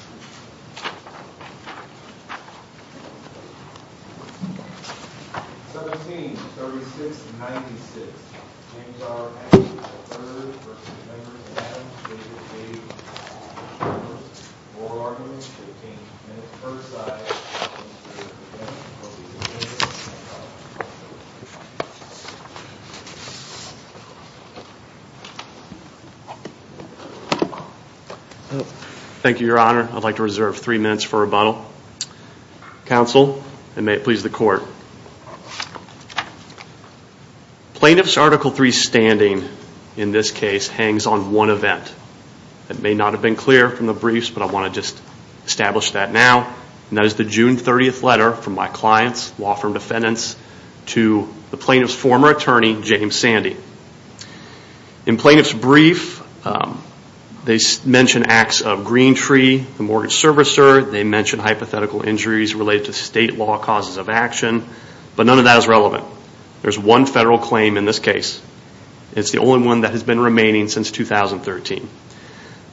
v. Davis, Davis, Davis, Morris, Moore, Arnold, and King, and at the first side, Hagen, Smith, DeMers, and Hagen, Smith, Hagen, Smith, Hagen, Smith, Hagen, Smith, Hagen, Smith, Hagen, I'd like to reserve three minutes for rebuttal. Counsel, and may it please the court. Plaintiff's Article III standing, in this case, hangs on one event. It may not have been clear from the briefs, but I want to just establish that now. And that is the June 30th letter from my client's law firm defendants to the plaintiff's former attorney, James Sandy. In plaintiff's brief, they mention acts of green tree, mortgage servicer, they mention hypothetical injuries related to state law causes of action. But none of that is relevant. There's one federal claim in this case. It's the only one that has been remaining since 2013.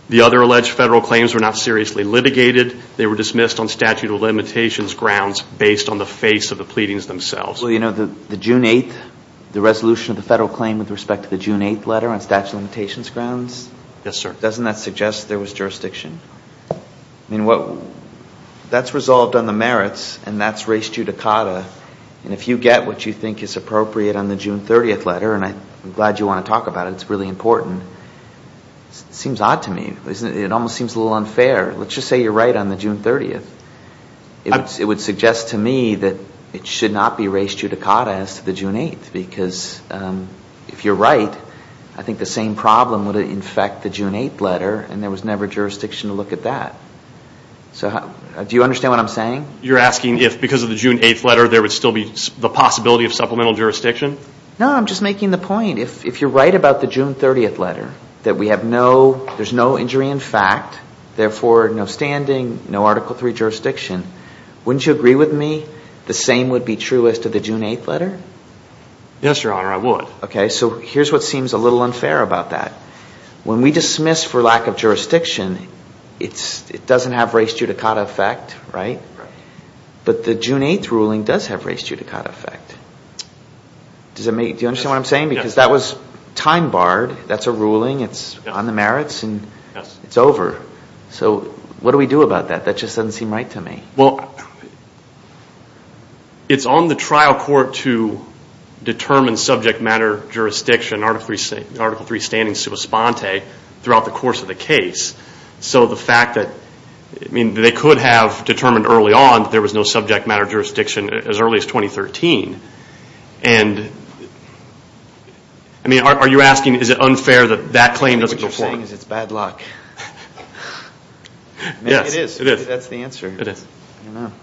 The other alleged federal claims were not seriously litigated. They were dismissed on statute of limitations grounds based on the face of the pleadings themselves. Well, you know, the June 8th, the resolution of the federal claim with respect to the June 8th letter on statute of limitations grounds? Yes, sir. Doesn't that suggest there was jurisdiction? I mean, that's resolved on the merits, and that's res judicata. And if you get what you think is appropriate on the June 30th letter, and I'm glad you want to talk about it. It's really important. It seems odd to me. It almost seems a little unfair. Let's just say you're right on the June 30th. It would suggest to me that it should not be res judicata as to the June 8th, because if you're right, I think the same problem would infect the June 8th letter, and there was never jurisdiction to look at that. So do you understand what I'm saying? You're asking if because of the June 8th letter there would still be the possibility of supplemental jurisdiction? No, I'm just making the point. If you're right about the June 30th letter, that we have no, there's no injury in fact, therefore no standing, no Article III jurisdiction. Wouldn't you agree with me the same would be true as to the June 8th letter? Yes, Your Honor, I would. Okay, so here's what seems a little unfair about that. When we dismiss for lack of jurisdiction, it doesn't have res judicata effect, right? Right. But the June 8th ruling does have res judicata effect. Do you understand what I'm saying? Yes. But that was time barred. That's a ruling. It's on the merits, and it's over. So what do we do about that? That just doesn't seem right to me. Well, it's on the trial court to determine subject matter jurisdiction, Article III standing sua sponte, throughout the course of the case. So the fact that, I mean, they could have determined early on that there was no subject matter jurisdiction as early as 2013, and, I mean, are you asking is it unfair that that claim doesn't go forward? What you're saying is it's bad luck. Yes, it is. That's the answer. It is. I don't know.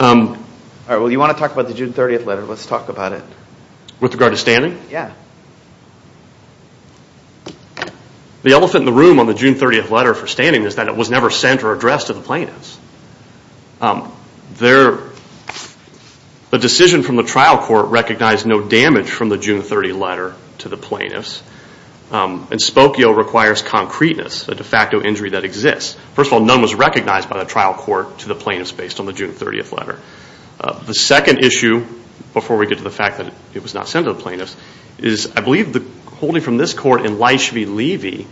All right, well, you want to talk about the June 30th letter. Let's talk about it. With regard to standing? Yeah. The elephant in the room on the June 30th letter for standing is that it was never sent or addressed to the plaintiffs. The decision from the trial court recognized no damage from the June 30th letter to the plaintiffs, and spokio requires concreteness, a de facto injury that exists. First of all, none was recognized by the trial court to the plaintiffs based on the June 30th letter. The second issue, before we get to the fact that it was not sent to the plaintiffs, is I believe the holding from this court in Leisch v. Levy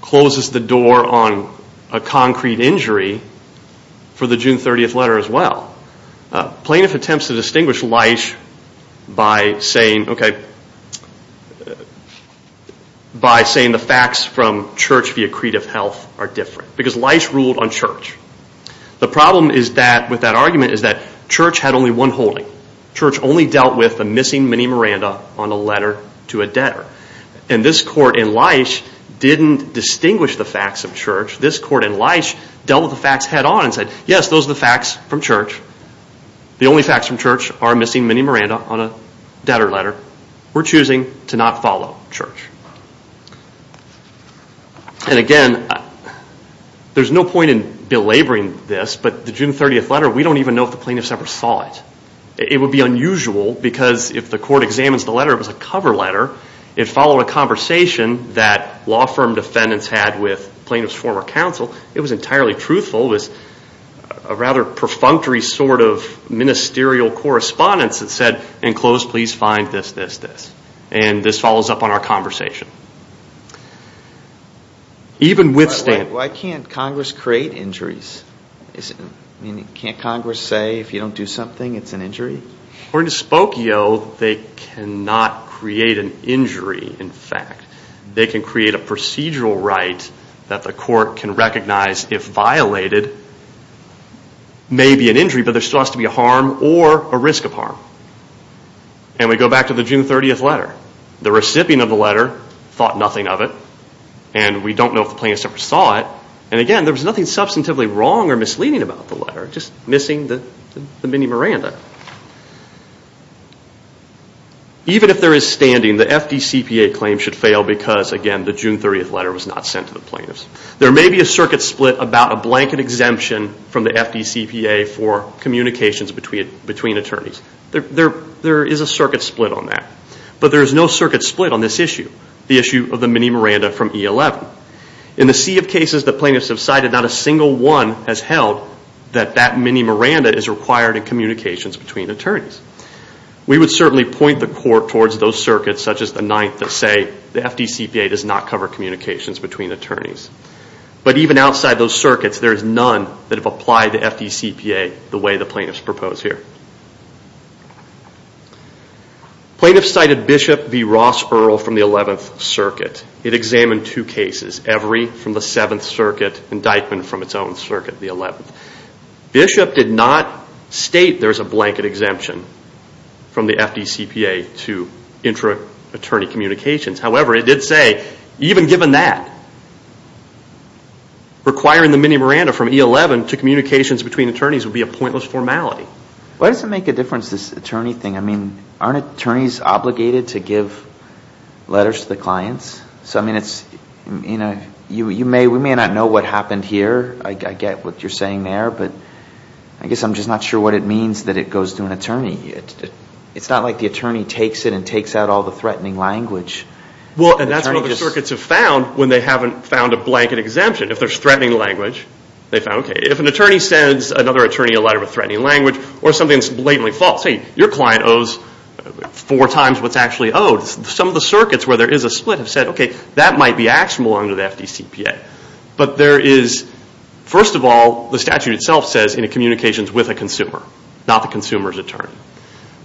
closes the door on a concrete injury for the June 30th letter as well. Plaintiffs attempt to distinguish Leisch by saying the facts from Church via creed of health are different because Leisch ruled on Church. The problem with that argument is that Church had only one holding. Church only dealt with a missing Minnie Miranda on a letter to a debtor. And this court in Leisch didn't distinguish the facts of Church. This court in Leisch dealt with the facts head on and said, yes, those are the facts from Church. The only facts from Church are a missing Minnie Miranda on a debtor letter. We're choosing to not follow Church. And again, there's no point in belaboring this, but the June 30th letter, we don't even know if the plaintiffs ever saw it. It would be unusual because if the court examines the letter, it was a cover letter. It followed a conversation that law firm defendants had with plaintiffs' former counsel. It was entirely truthful. It was a rather perfunctory sort of ministerial correspondence that said, in close, please find this, this, this. And this follows up on our conversation. Why can't Congress create injuries? Can't Congress say if you don't do something, it's an injury? According to Spokio, they cannot create an injury, in fact. They can create a procedural right that the court can recognize if violated may be an injury, but there still has to be a harm or a risk of harm. And we go back to the June 30th letter. The recipient of the letter thought nothing of it, and we don't know if the plaintiffs ever saw it. And again, there was nothing substantively wrong or misleading about the letter, just missing the mini Miranda. Even if there is standing, the FDCPA claim should fail because, again, the June 30th letter was not sent to the plaintiffs. There may be a circuit split about a blanket exemption from the FDCPA for communications between attorneys. There is a circuit split on that. But there is no circuit split on this issue, the issue of the mini Miranda from E11. In the sea of cases the plaintiffs have cited, not a single one has held that that mini Miranda is required in communications between attorneys. We would certainly point the court towards those circuits, such as the ninth, that say the FDCPA does not cover communications between attorneys. But even outside those circuits, there is none that have applied the FDCPA the way the plaintiffs propose here. Plaintiffs cited Bishop v. Ross Burrell from the 11th Circuit. It examined two cases, every from the 7th Circuit, indictment from its own circuit, the 11th. Bishop did not state there is a blanket exemption from the FDCPA to intra-attorney communications. However, it did say, even given that, requiring the mini Miranda from E11 to communications between attorneys would be a pointless formality. Why does it make a difference, this attorney thing? I mean, aren't attorneys obligated to give letters to the clients? I mean, we may not know what happened here. I get what you're saying there. But I guess I'm just not sure what it means that it goes to an attorney. It's not like the attorney takes it and takes out all the threatening language. Well, that's what the circuits have found when they haven't found a blanket exemption. If there's threatening language, they found, okay. If an attorney sends another attorney a letter with threatening language or something that's blatantly false, hey, your client owes four times what's actually owed. Some of the circuits where there is a split have said, okay, that might be actionable under the FDCPA. But there is, first of all, the statute itself says in communications with a consumer, not the consumer's attorney.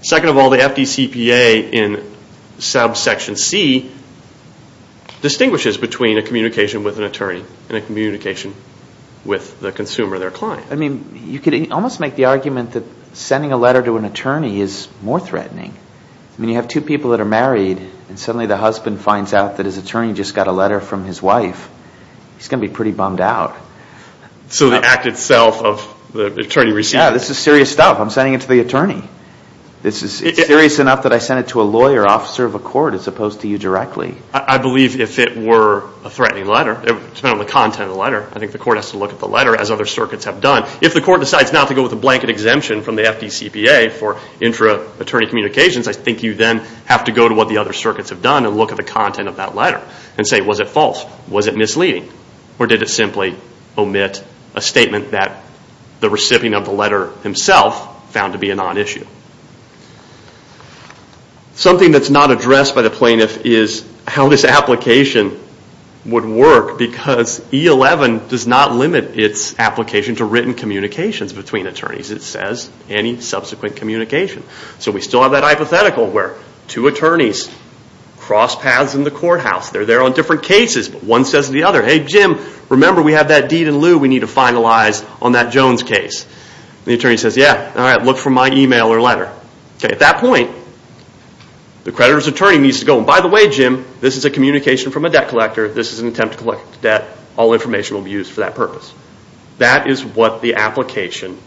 Second of all, the FDCPA in subsection C distinguishes between a communication with an attorney and a communication with the consumer, their client. I mean, you could almost make the argument that sending a letter to an attorney is more threatening. I mean, you have two people that are married and suddenly the husband finds out that his attorney just got a letter from his wife. He's going to be pretty bummed out. So the act itself of the attorney receiving it. Yeah, this is serious stuff. I'm sending it to the attorney. It's serious enough that I sent it to a lawyer, officer of a court as opposed to you directly. I believe if it were a threatening letter, depending on the content of the letter, I think the court has to look at the letter as other circuits have done. If the court decides not to go with a blanket exemption from the FDCPA for intra-attorney communications, I think you then have to go to what the other circuits have done and look at the content of that letter and say, was it false? Was it misleading? Or did it simply omit a statement that the recipient of the letter himself found to be a non-issue? Something that's not addressed by the plaintiff is how this application would work because E-11 does not limit its application to written communications between attorneys. It says any subsequent communication. So we still have that hypothetical where two attorneys cross paths in the courthouse. They're there on different cases, but one says to the other, hey Jim, remember we have that deed in lieu we need to finalize on that Jones case. The attorney says, yeah, look for my email or letter. At that point, the creditor's attorney needs to go, and by the way, Jim, this is a communication from a debt collector. This is an attempt to collect debt. All information will be used for that purpose. That is what the application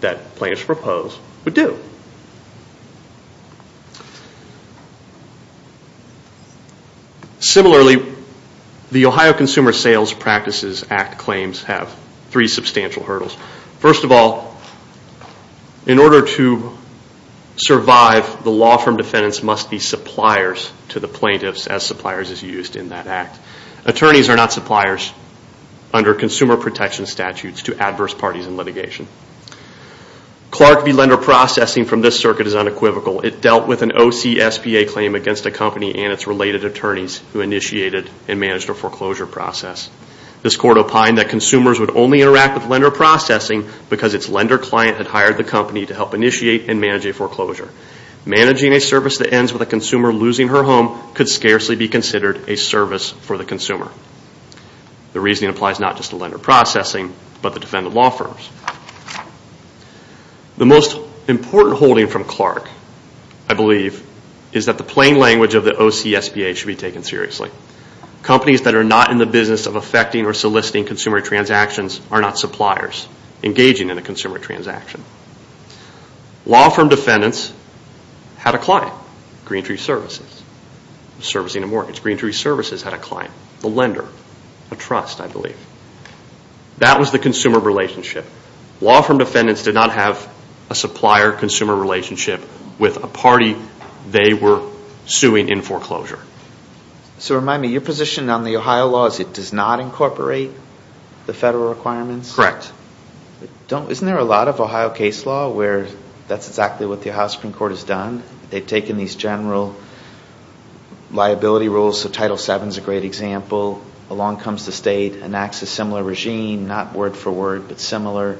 that plaintiffs propose would do. Similarly, the Ohio Consumer Sales Practices Act claims have three substantial hurdles. First of all, in order to survive, the law firm defendants must be suppliers to the plaintiffs as suppliers is used in that act. Attorneys are not suppliers under consumer protection statutes to adverse parties in litigation. Clark v. Lender Processing from this circuit is unequivocal. It dealt with an OCSPA claim against a company and its related attorneys who initiated and managed a foreclosure process. This court opined that consumers would only interact with lender processing because its lender client had hired the company to help initiate and manage a foreclosure. Managing a service that ends with a consumer losing her home could scarcely be considered a service for the consumer. The reasoning applies not just to lender processing, but the defendant law firms. The most important holding from Clark, I believe, is that the plain language of the OCSPA should be taken seriously. Companies that are not in the business of affecting or soliciting consumer transactions are not suppliers engaging in a consumer transaction. Law firm defendants had a client, Green Tree Services, servicing a mortgage. Green Tree Services had a client, the lender, a trust, I believe. That was the consumer relationship. Law firm defendants did not have a supplier-consumer relationship with a party they were suing in foreclosure. So remind me, your position on the Ohio law is it does not incorporate the federal requirements? Correct. Isn't there a lot of Ohio case law where that's exactly what the Ohio Supreme Court has done? They've taken these general liability rules, so Title VII is a great example. Along comes the state and acts a similar regime, not word for word, but similar.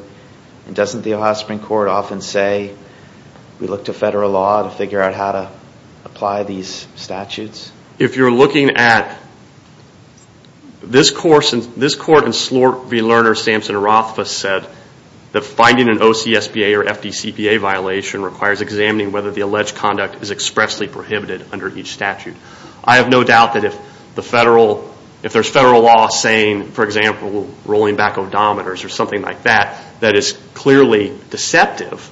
Doesn't the Ohio Supreme Court often say, we look to federal law to figure out how to apply these statutes? If you're looking at this court in Slork v. Lerner, Samson and Rothfuss said that finding an OCSPA or FDCPA violation requires examining whether the alleged conduct is expressly prohibited under each statute. I have no doubt that if there's federal law saying, for example, rolling back odometers or something like that, that is clearly deceptive,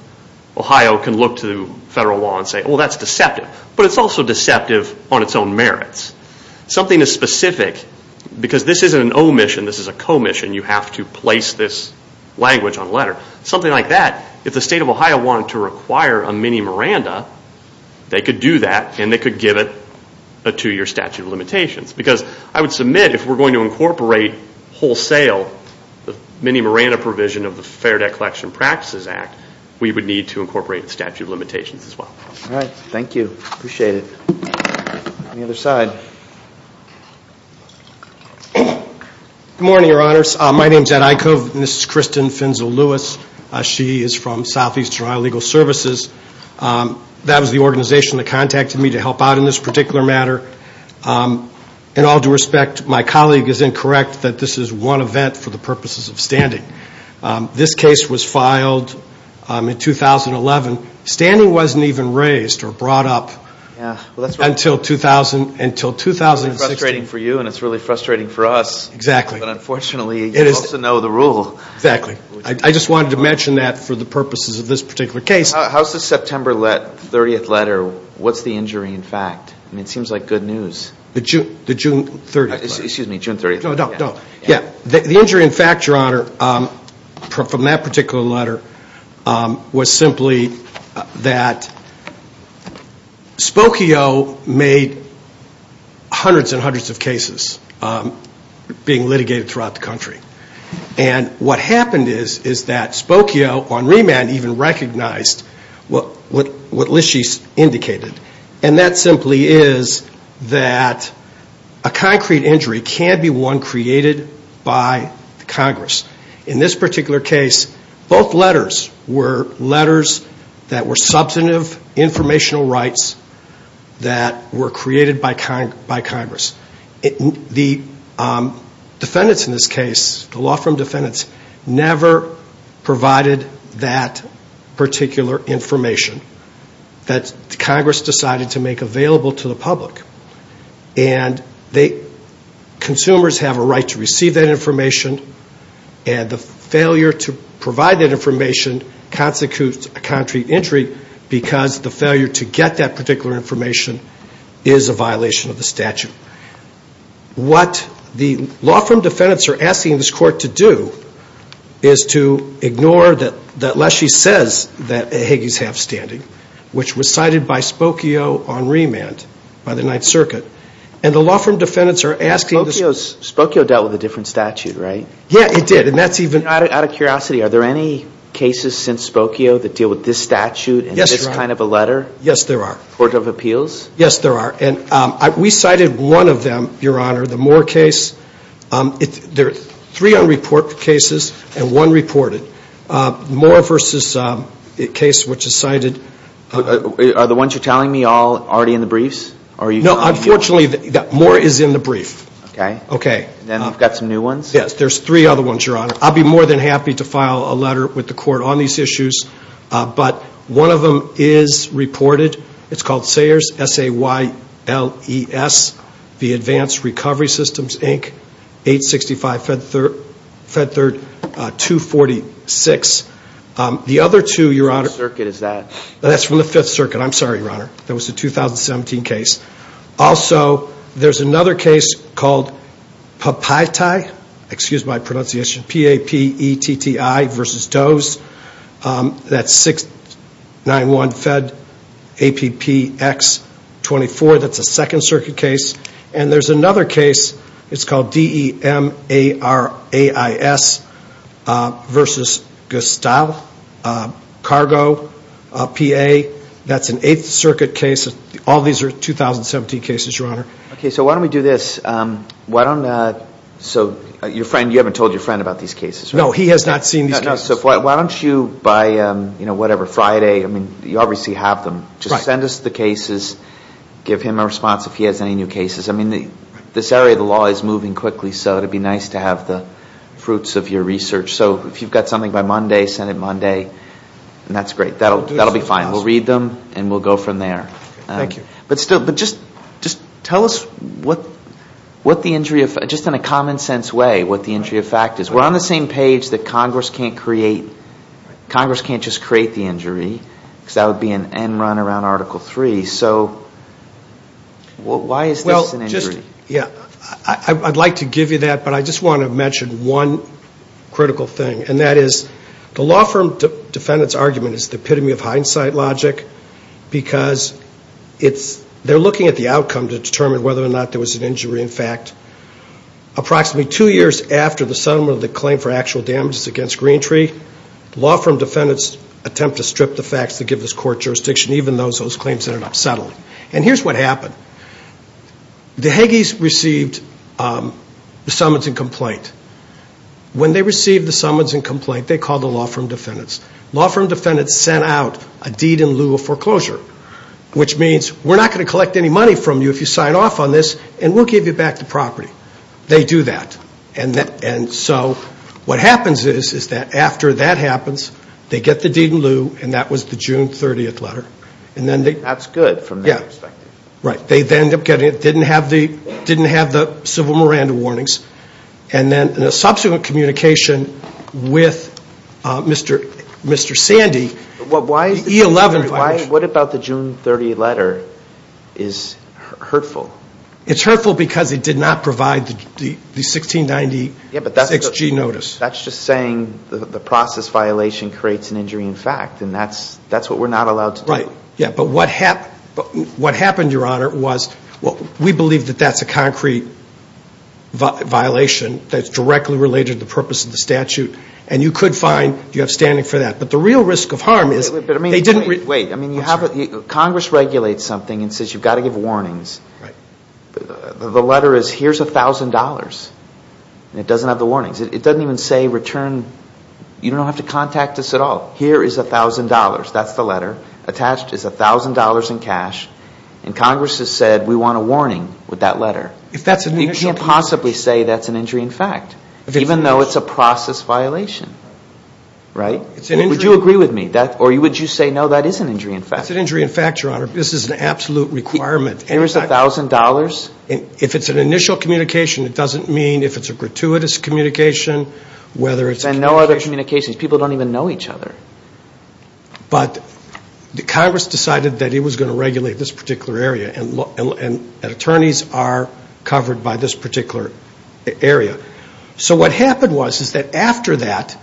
Ohio can look to federal law and say, well, that's deceptive. But it's also deceptive on its own merits. Something as specific, because this isn't an omission, this is a commission, you have to place this language on letter. Something like that, if the state of Ohio wanted to require a mini-Miranda, they could do that and they could give it a two-year statute of limitations. Because I would submit, if we're going to incorporate wholesale, the mini-Miranda provision of the Fair Debt Collection Practices Act, we would need to incorporate a statute of limitations as well. All right, thank you. Appreciate it. On the other side. Good morning, Your Honors. My name is Ed Eickhove and this is Kristen Finzel Lewis. She is from Southeast Ohio Legal Services. That was the organization that contacted me to help out in this particular matter. In all due respect, my colleague is incorrect that this is one event for the purposes of standing. This case was filed in 2011. Standing wasn't even raised or brought up until 2016. It's frustrating for you and it's really frustrating for us. Exactly. But unfortunately, you also know the rule. Exactly. I just wanted to mention that for the purposes of this particular case. How's the September 30th letter, what's the injury in fact? It seems like good news. The June 30th letter. Excuse me, June 30th. No, no. The injury in fact, Your Honor, from that particular letter, was simply that Spokio made hundreds and hundreds of cases being litigated throughout the country. And what happened is that Spokio on remand even recognized what Lischy indicated. And that simply is that a concrete injury can be one created by Congress. In this particular case, both letters were letters that were substantive informational rights that were created by Congress. The defendants in this case, the law firm defendants, never provided that particular information that Congress decided to make available to the public. And consumers have a right to receive that information, and the failure to provide that information constitutes a concrete injury because the failure to get that particular information is a violation of the statute. What the law firm defendants are asking this court to do is to ignore that Lischy says that Higgy's half standing, which was cited by Spokio on remand by the Ninth Circuit. And the law firm defendants are asking this court. Spokio dealt with a different statute, right? Yeah, he did. Out of curiosity, are there any cases since Spokio that deal with this statute and this kind of a letter? Yes, there are. Court of appeals? Yes, there are. And we cited one of them, Your Honor, the Moore case. There are three unreported cases and one reported. Moore versus a case which is cited. Are the ones you're telling me all already in the briefs? No, unfortunately, Moore is in the brief. Okay. Then we've got some new ones? Yes, there's three other ones, Your Honor. I'll be more than happy to file a letter with the court on these issues, but one of them is reported. It's called Sayers, S-A-Y-L-E-S, the Advanced Recovery Systems, Inc., 865 Fed Third 246. The other two, Your Honor. Which circuit is that? That's from the Fifth Circuit. I'm sorry, Your Honor. That was the 2017 case. Also, there's another case called Papaitai, excuse my pronunciation, P-A-P-E-T-T-I versus Doe's. That's 691 Fed, A-P-P-X 24. That's a Second Circuit case. And there's another case. It's called D-E-M-A-R-A-I-S versus Gestahl Cargo, P-A. That's an Eighth Circuit case. All these are 2017 cases, Your Honor. Okay. So why don't we do this? So your friend, you haven't told your friend about these cases, right? No. He has not seen these cases. Why don't you by, you know, whatever, Friday, I mean, you obviously have them. Just send us the cases, give him a response if he has any new cases. I mean, this area of the law is moving quickly, so it would be nice to have the fruits of your research. So if you've got something by Monday, send it Monday, and that's great. That'll be fine. We'll read them, and we'll go from there. Thank you. But just tell us what the injury effect, just in a common sense way, what the injury effect is. We're on the same page that Congress can't create, Congress can't just create the injury, because that would be an end run around Article III. So why is this an injury? Well, just, yeah, I'd like to give you that, but I just want to mention one critical thing, and that is the law firm defendant's argument is the epitome of hindsight logic, because they're looking at the outcome to determine whether or not there was an injury. In fact, approximately two years after the settlement of the claim for actual damages against Greentree, law firm defendants attempt to strip the facts to give this court jurisdiction, even though those claims ended up settling. And here's what happened. The Hagees received the summons and complaint. When they received the summons and complaint, they called the law firm defendants. Law firm defendants sent out a deed in lieu of foreclosure, which means we're not going to collect any money from you if you sign off on this, and we'll give you back the property. They do that. And so what happens is, is that after that happens, they get the deed in lieu, and that was the June 30th letter. That's good from their perspective. Right. They then end up getting it, didn't have the civil Miranda warnings, and then in a subsequent communication with Mr. Sandy, the E-11 violation. What about the June 30th letter is hurtful? It's hurtful because it did not provide the 1696G notice. That's just saying the process violation creates an injury in fact, and that's what we're not allowed to do. Right. Yeah, but what happened, Your Honor, was we believe that that's a concrete violation that's directly related to the purpose of the statute, and you could find you have standing for that. But the real risk of harm is they didn't. Wait. Congress regulates something and says you've got to give warnings. Right. The letter is here's $1,000, and it doesn't have the warnings. It doesn't even say return. You don't have to contact us at all. Here is $1,000. That's the letter. Attached is $1,000 in cash, and Congress has said we want a warning with that letter. You can't possibly say that's an injury in fact, even though it's a process violation. Right? Would you agree with me? Or would you say, no, that is an injury in fact? It's an injury in fact, Your Honor. This is an absolute requirement. Here is $1,000. If it's an initial communication, it doesn't mean if it's a gratuitous communication, whether it's a communication. And no other communications. People don't even know each other. But Congress decided that it was going to regulate this particular area, and attorneys are covered by this particular area. So what happened was is that after that,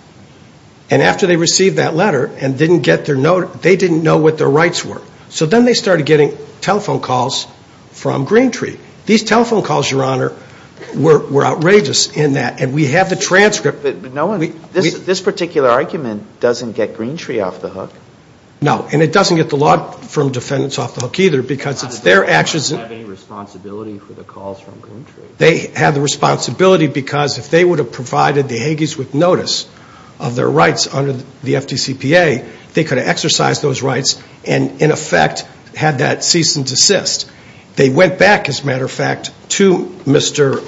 and after they received that letter and didn't get their note, they didn't know what their rights were. So then they started getting telephone calls from Green Tree. These telephone calls, Your Honor, were outrageous in that, and we have the transcript. This particular argument doesn't get Green Tree off the hook. No, and it doesn't get the law firm defendants off the hook either because it's their actions. Do they have any responsibility for the calls from Green Tree? They have the responsibility because if they would have provided the Hagees with notice of their rights under the FDCPA, they could have exercised those rights and in effect had that cease and desist. They went back, as a matter of fact, to Mr.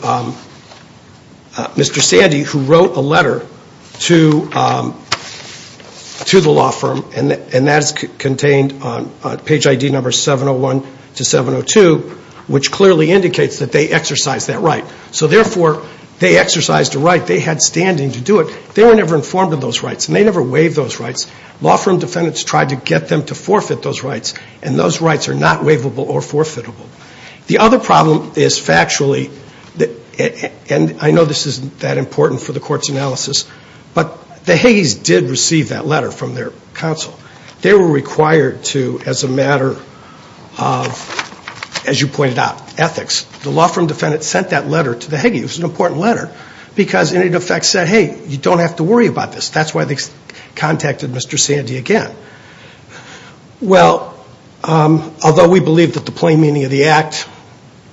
Sandy who wrote a letter to the law firm, and that's contained on page ID number 701 to 702, which clearly indicates that they exercised that right. So therefore, they exercised a right. They had standing to do it. They were never informed of those rights, and they never waived those rights. Law firm defendants tried to get them to forfeit those rights, and those rights are not waivable or forfeitable. The other problem is factually, and I know this isn't that important for the court's analysis, but the Hagees did receive that letter from their counsel. They were required to, as a matter of, as you pointed out, ethics. The law firm defendants sent that letter to the Hagees. It was an important letter because in effect said, hey, you don't have to worry about this. That's why they contacted Mr. Sandy again. Well, although we believe that the plain meaning of the act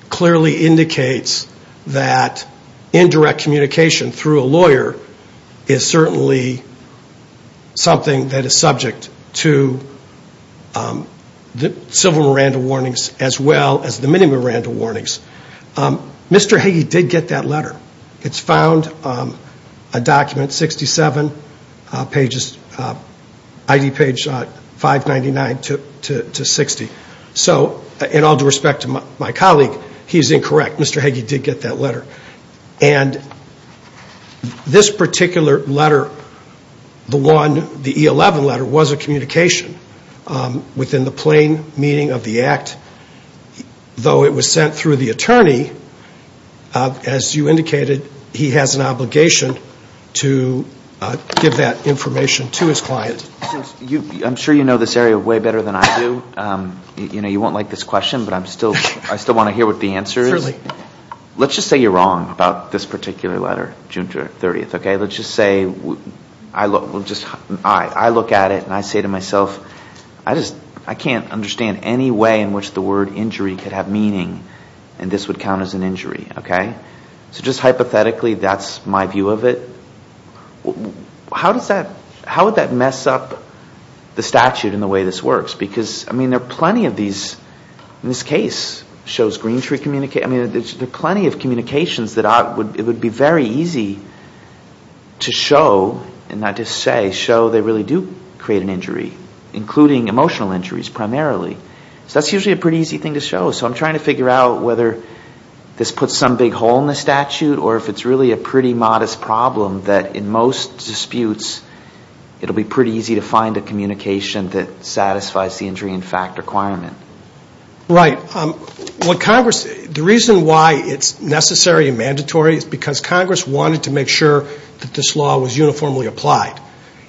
clearly indicates that indirect communication through a lawyer is certainly something that is subject to the civil Miranda warnings as well as the mini Miranda warnings, Mr. Hagee did get that letter. It's found a document, 67 pages, ID page 599 to 60. So in all due respect to my colleague, he's incorrect. Mr. Hagee did get that letter. And this particular letter, the one, the E11 letter, was a communication within the plain meaning of the act, though it was sent through the attorney. As you indicated, he has an obligation to give that information to his client. I'm sure you know this area way better than I do. You know, you won't like this question, but I still want to hear what the answer is. Let's just say you're wrong about this particular letter, June 30th, okay? Let's just say I look at it and I say to myself, I can't understand any way in which the word injury could have meaning and this would count as an injury, okay? So just hypothetically, that's my view of it. How would that mess up the statute in the way this works? Because, I mean, there are plenty of these. and not just say, show they really do create an injury, including emotional injuries primarily. So that's usually a pretty easy thing to show. So I'm trying to figure out whether this puts some big hole in the statute or if it's really a pretty modest problem that in most disputes, it'll be pretty easy to find a communication that satisfies the injury in fact requirement. Right. Well, Congress, the reason why it's necessary and mandatory is because Congress wanted to make sure that this law was uniformly applied.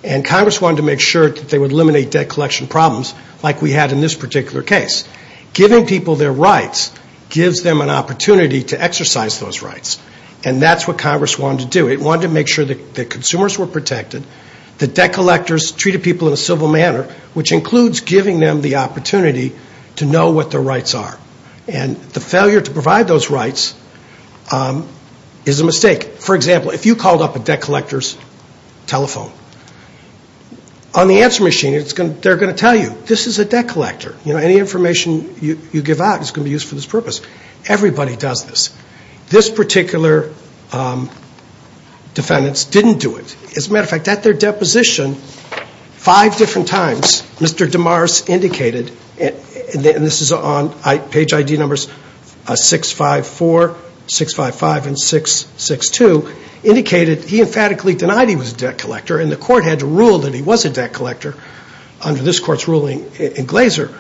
And Congress wanted to make sure that they would eliminate debt collection problems like we had in this particular case. Giving people their rights gives them an opportunity to exercise those rights. And that's what Congress wanted to do. It wanted to make sure that consumers were protected, that debt collectors treated people in a civil manner, which includes giving them the opportunity to know what their rights are. And the failure to provide those rights is a mistake. For example, if you called up a debt collector's telephone, on the answer machine, they're going to tell you, this is a debt collector. Any information you give out is going to be used for this purpose. Everybody does this. This particular defendant didn't do it. As a matter of fact, at their deposition, five different times, Mr. DeMars indicated, and this is on page ID numbers 654, 655, and 662, indicated he emphatically denied he was a debt collector, and the court had to rule that he was a debt collector under this court's ruling in Glaser.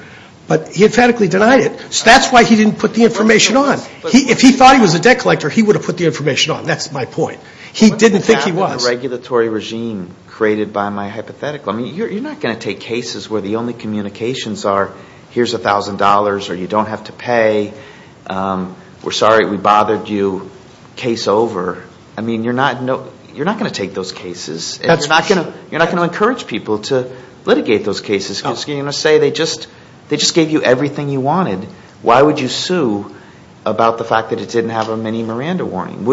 But he emphatically denied it. So that's why he didn't put the information on. If he thought he was a debt collector, he would have put the information on. That's my point. He didn't think he was. The regulatory regime created by my hypothetical. I mean, you're not going to take cases where the only communications are, here's $1,000 or you don't have to pay, we're sorry we bothered you, case over. I mean, you're not going to take those cases. You're not going to encourage people to litigate those cases. You're going to say they just gave you everything you wanted. Why would you sue about the fact that it didn't have a Minnie Miranda warning?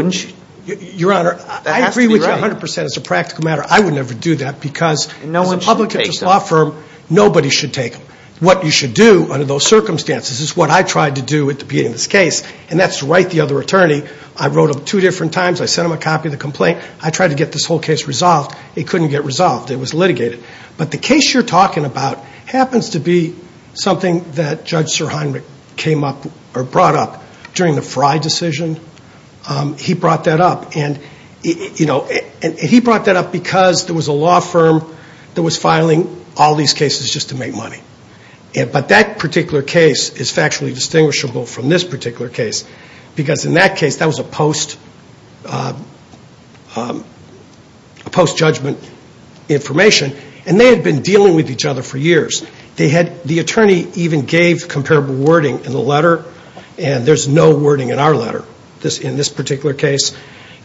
Your Honor, I agree with you 100%. It's a practical matter. I would never do that because as a public interest law firm, nobody should take them. What you should do under those circumstances is what I tried to do at the beginning of this case, and that's to write the other attorney. I wrote him two different times. I sent him a copy of the complaint. I tried to get this whole case resolved. It couldn't get resolved. It was litigated. But the case you're talking about happens to be something that Judge Sir Heinrich came up or brought up during the Frye decision. He brought that up, and he brought that up because there was a law firm that was filing all these cases just to make money. But that particular case is factually distinguishable from this particular case because in that case, that was a post-judgment information, and they had been dealing with each other for years. The attorney even gave comparable wording in the letter, and there's no wording in our letter in this particular case.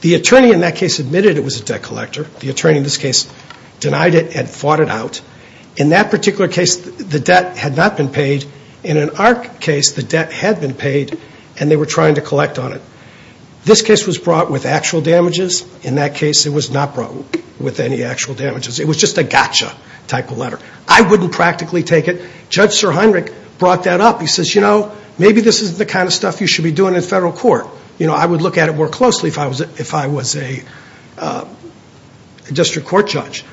The attorney in that case admitted it was a debt collector. The attorney in this case denied it and fought it out. In that particular case, the debt had not been paid. And in our case, the debt had been paid, and they were trying to collect on it. This case was brought with actual damages. In that case, it was not brought with any actual damages. It was just a gotcha type of letter. I wouldn't practically take it. Judge Sir Heinrich brought that up. He says, you know, maybe this isn't the kind of stuff you should be doing in federal court. You know, I would look at it more closely if I was a district court judge.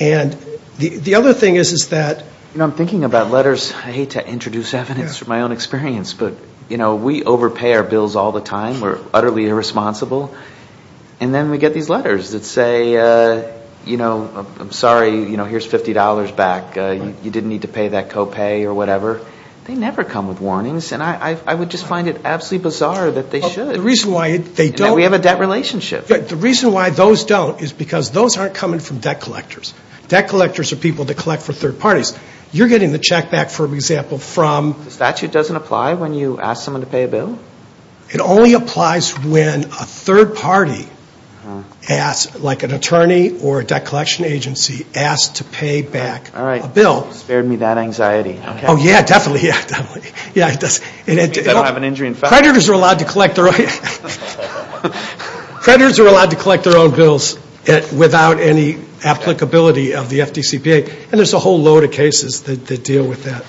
And the other thing is, is that, you know, I'm thinking about letters. I hate to introduce evidence from my own experience, but, you know, we overpay our bills all the time. We're utterly irresponsible. And then we get these letters that say, you know, I'm sorry. You know, here's $50 back. You didn't need to pay that copay or whatever. They never come with warnings, and I would just find it absolutely bizarre that they should. The reason why they don't. We have a debt relationship. The reason why those don't is because those aren't coming from debt collectors. Debt collectors are people that collect for third parties. You're getting the check back, for example, from. The statute doesn't apply when you ask someone to pay a bill? It only applies when a third party asks, like an attorney or a debt collection agency, asks to pay back a bill. All right. Spared me that anxiety. Oh, yeah, definitely. Yeah, it does. It means I don't have an injury in federal court. Creditors are allowed to collect their own bills without any applicability of the FDCPA. And there's a whole load of cases that deal with that.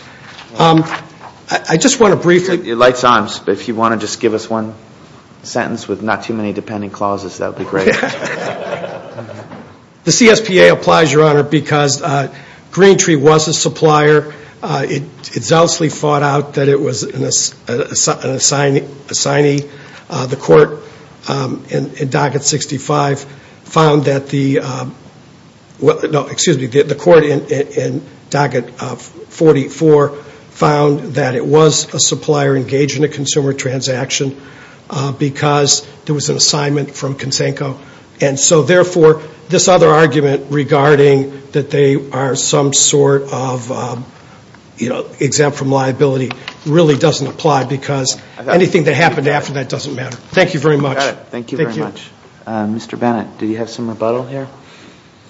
I just want to briefly. It lights on. If you want to just give us one sentence with not too many depending clauses, that would be great. The CSPA applies, Your Honor, because Green Tree was a supplier. It zealously fought out that it was an assignee. The court in docket 65 found that the. No, excuse me. The court in docket 44 found that it was a supplier engaged in a consumer transaction because there was an assignment from Kinsenko. And so, therefore, this other argument regarding that they are some sort of exempt from liability really doesn't apply because anything that happened after that doesn't matter. Thank you very much. Thank you very much. Mr. Bennett, do you have some rebuttal here?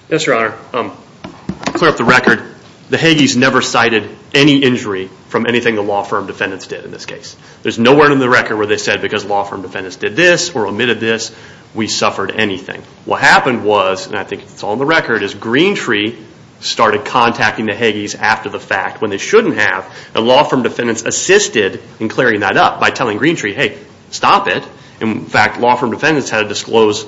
Yes, Your Honor. To clear up the record, the Hagees never cited any injury from anything the law firm defendants did in this case. There's nowhere in the record where they said because law firm defendants did this or omitted this, we suffered anything. What happened was, and I think it's all in the record, is Green Tree started contacting the Hagees after the fact when they shouldn't have. The law firm defendants assisted in clearing that up by telling Green Tree, hey, stop it. In fact, law firm defendants had to disclose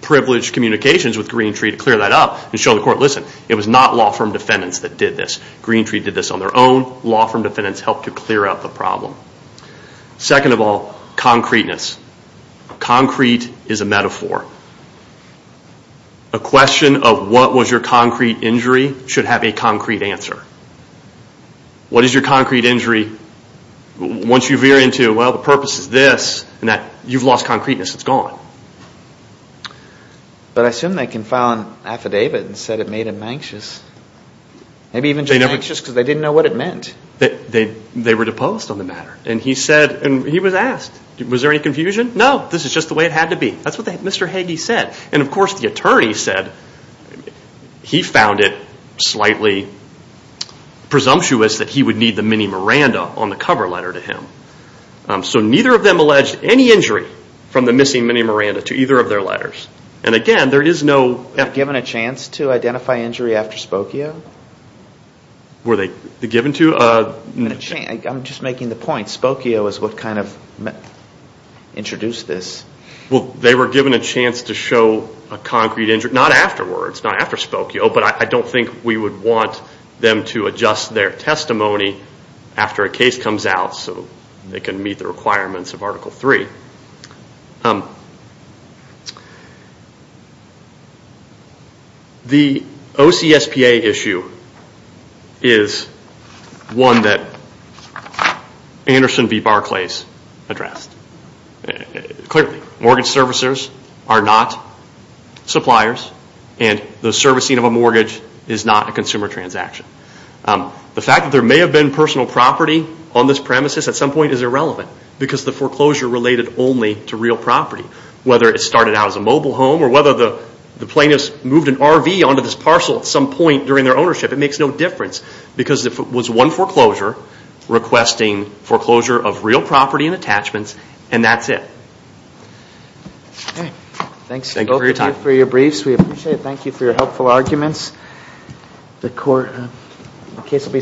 privileged communications with Green Tree to clear that up and show the court, listen, it was not law firm defendants that did this. Green Tree did this on their own. Law firm defendants helped to clear up the problem. Second of all, concreteness. Concrete is a metaphor. A question of what was your concrete injury should have a concrete answer. What is your concrete injury? Once you veer into, well, the purpose is this, you've lost concreteness, it's gone. But I assume they can file an affidavit and say it made them anxious. Maybe even just anxious because they didn't know what it meant. They were deposed on the matter. And he was asked, was there any confusion? No, this is just the way it had to be. That's what Mr. Hagee said. And, of course, the attorney said he found it slightly presumptuous that he would need the mini Miranda on the cover letter to him. So neither of them alleged any injury from the missing mini Miranda to either of their letters. And, again, there is no... Were they given a chance to identify injury after Spokio? Were they given to? I'm just making the point. Spokio is what kind of introduced this. Well, they were given a chance to show a concrete injury. Not afterwards, not after Spokio. But I don't think we would want them to adjust their testimony after a case comes out so they can meet the requirements of Article 3. The OCSPA issue is one that Anderson v. Barclays addressed. Clearly, mortgage servicers are not suppliers and the servicing of a mortgage is not a consumer transaction. The fact that there may have been personal property on this premises at some point is irrelevant because the foreclosure related only to real property. Whether it started out as a mobile home or whether the plaintiffs moved an RV onto this parcel at some point during their ownership, it makes no difference because it was one foreclosure requesting foreclosure of real property and attachments, and that's it. Thanks for your time. Thank you for your briefs. We appreciate it. Thank you for your helpful arguments.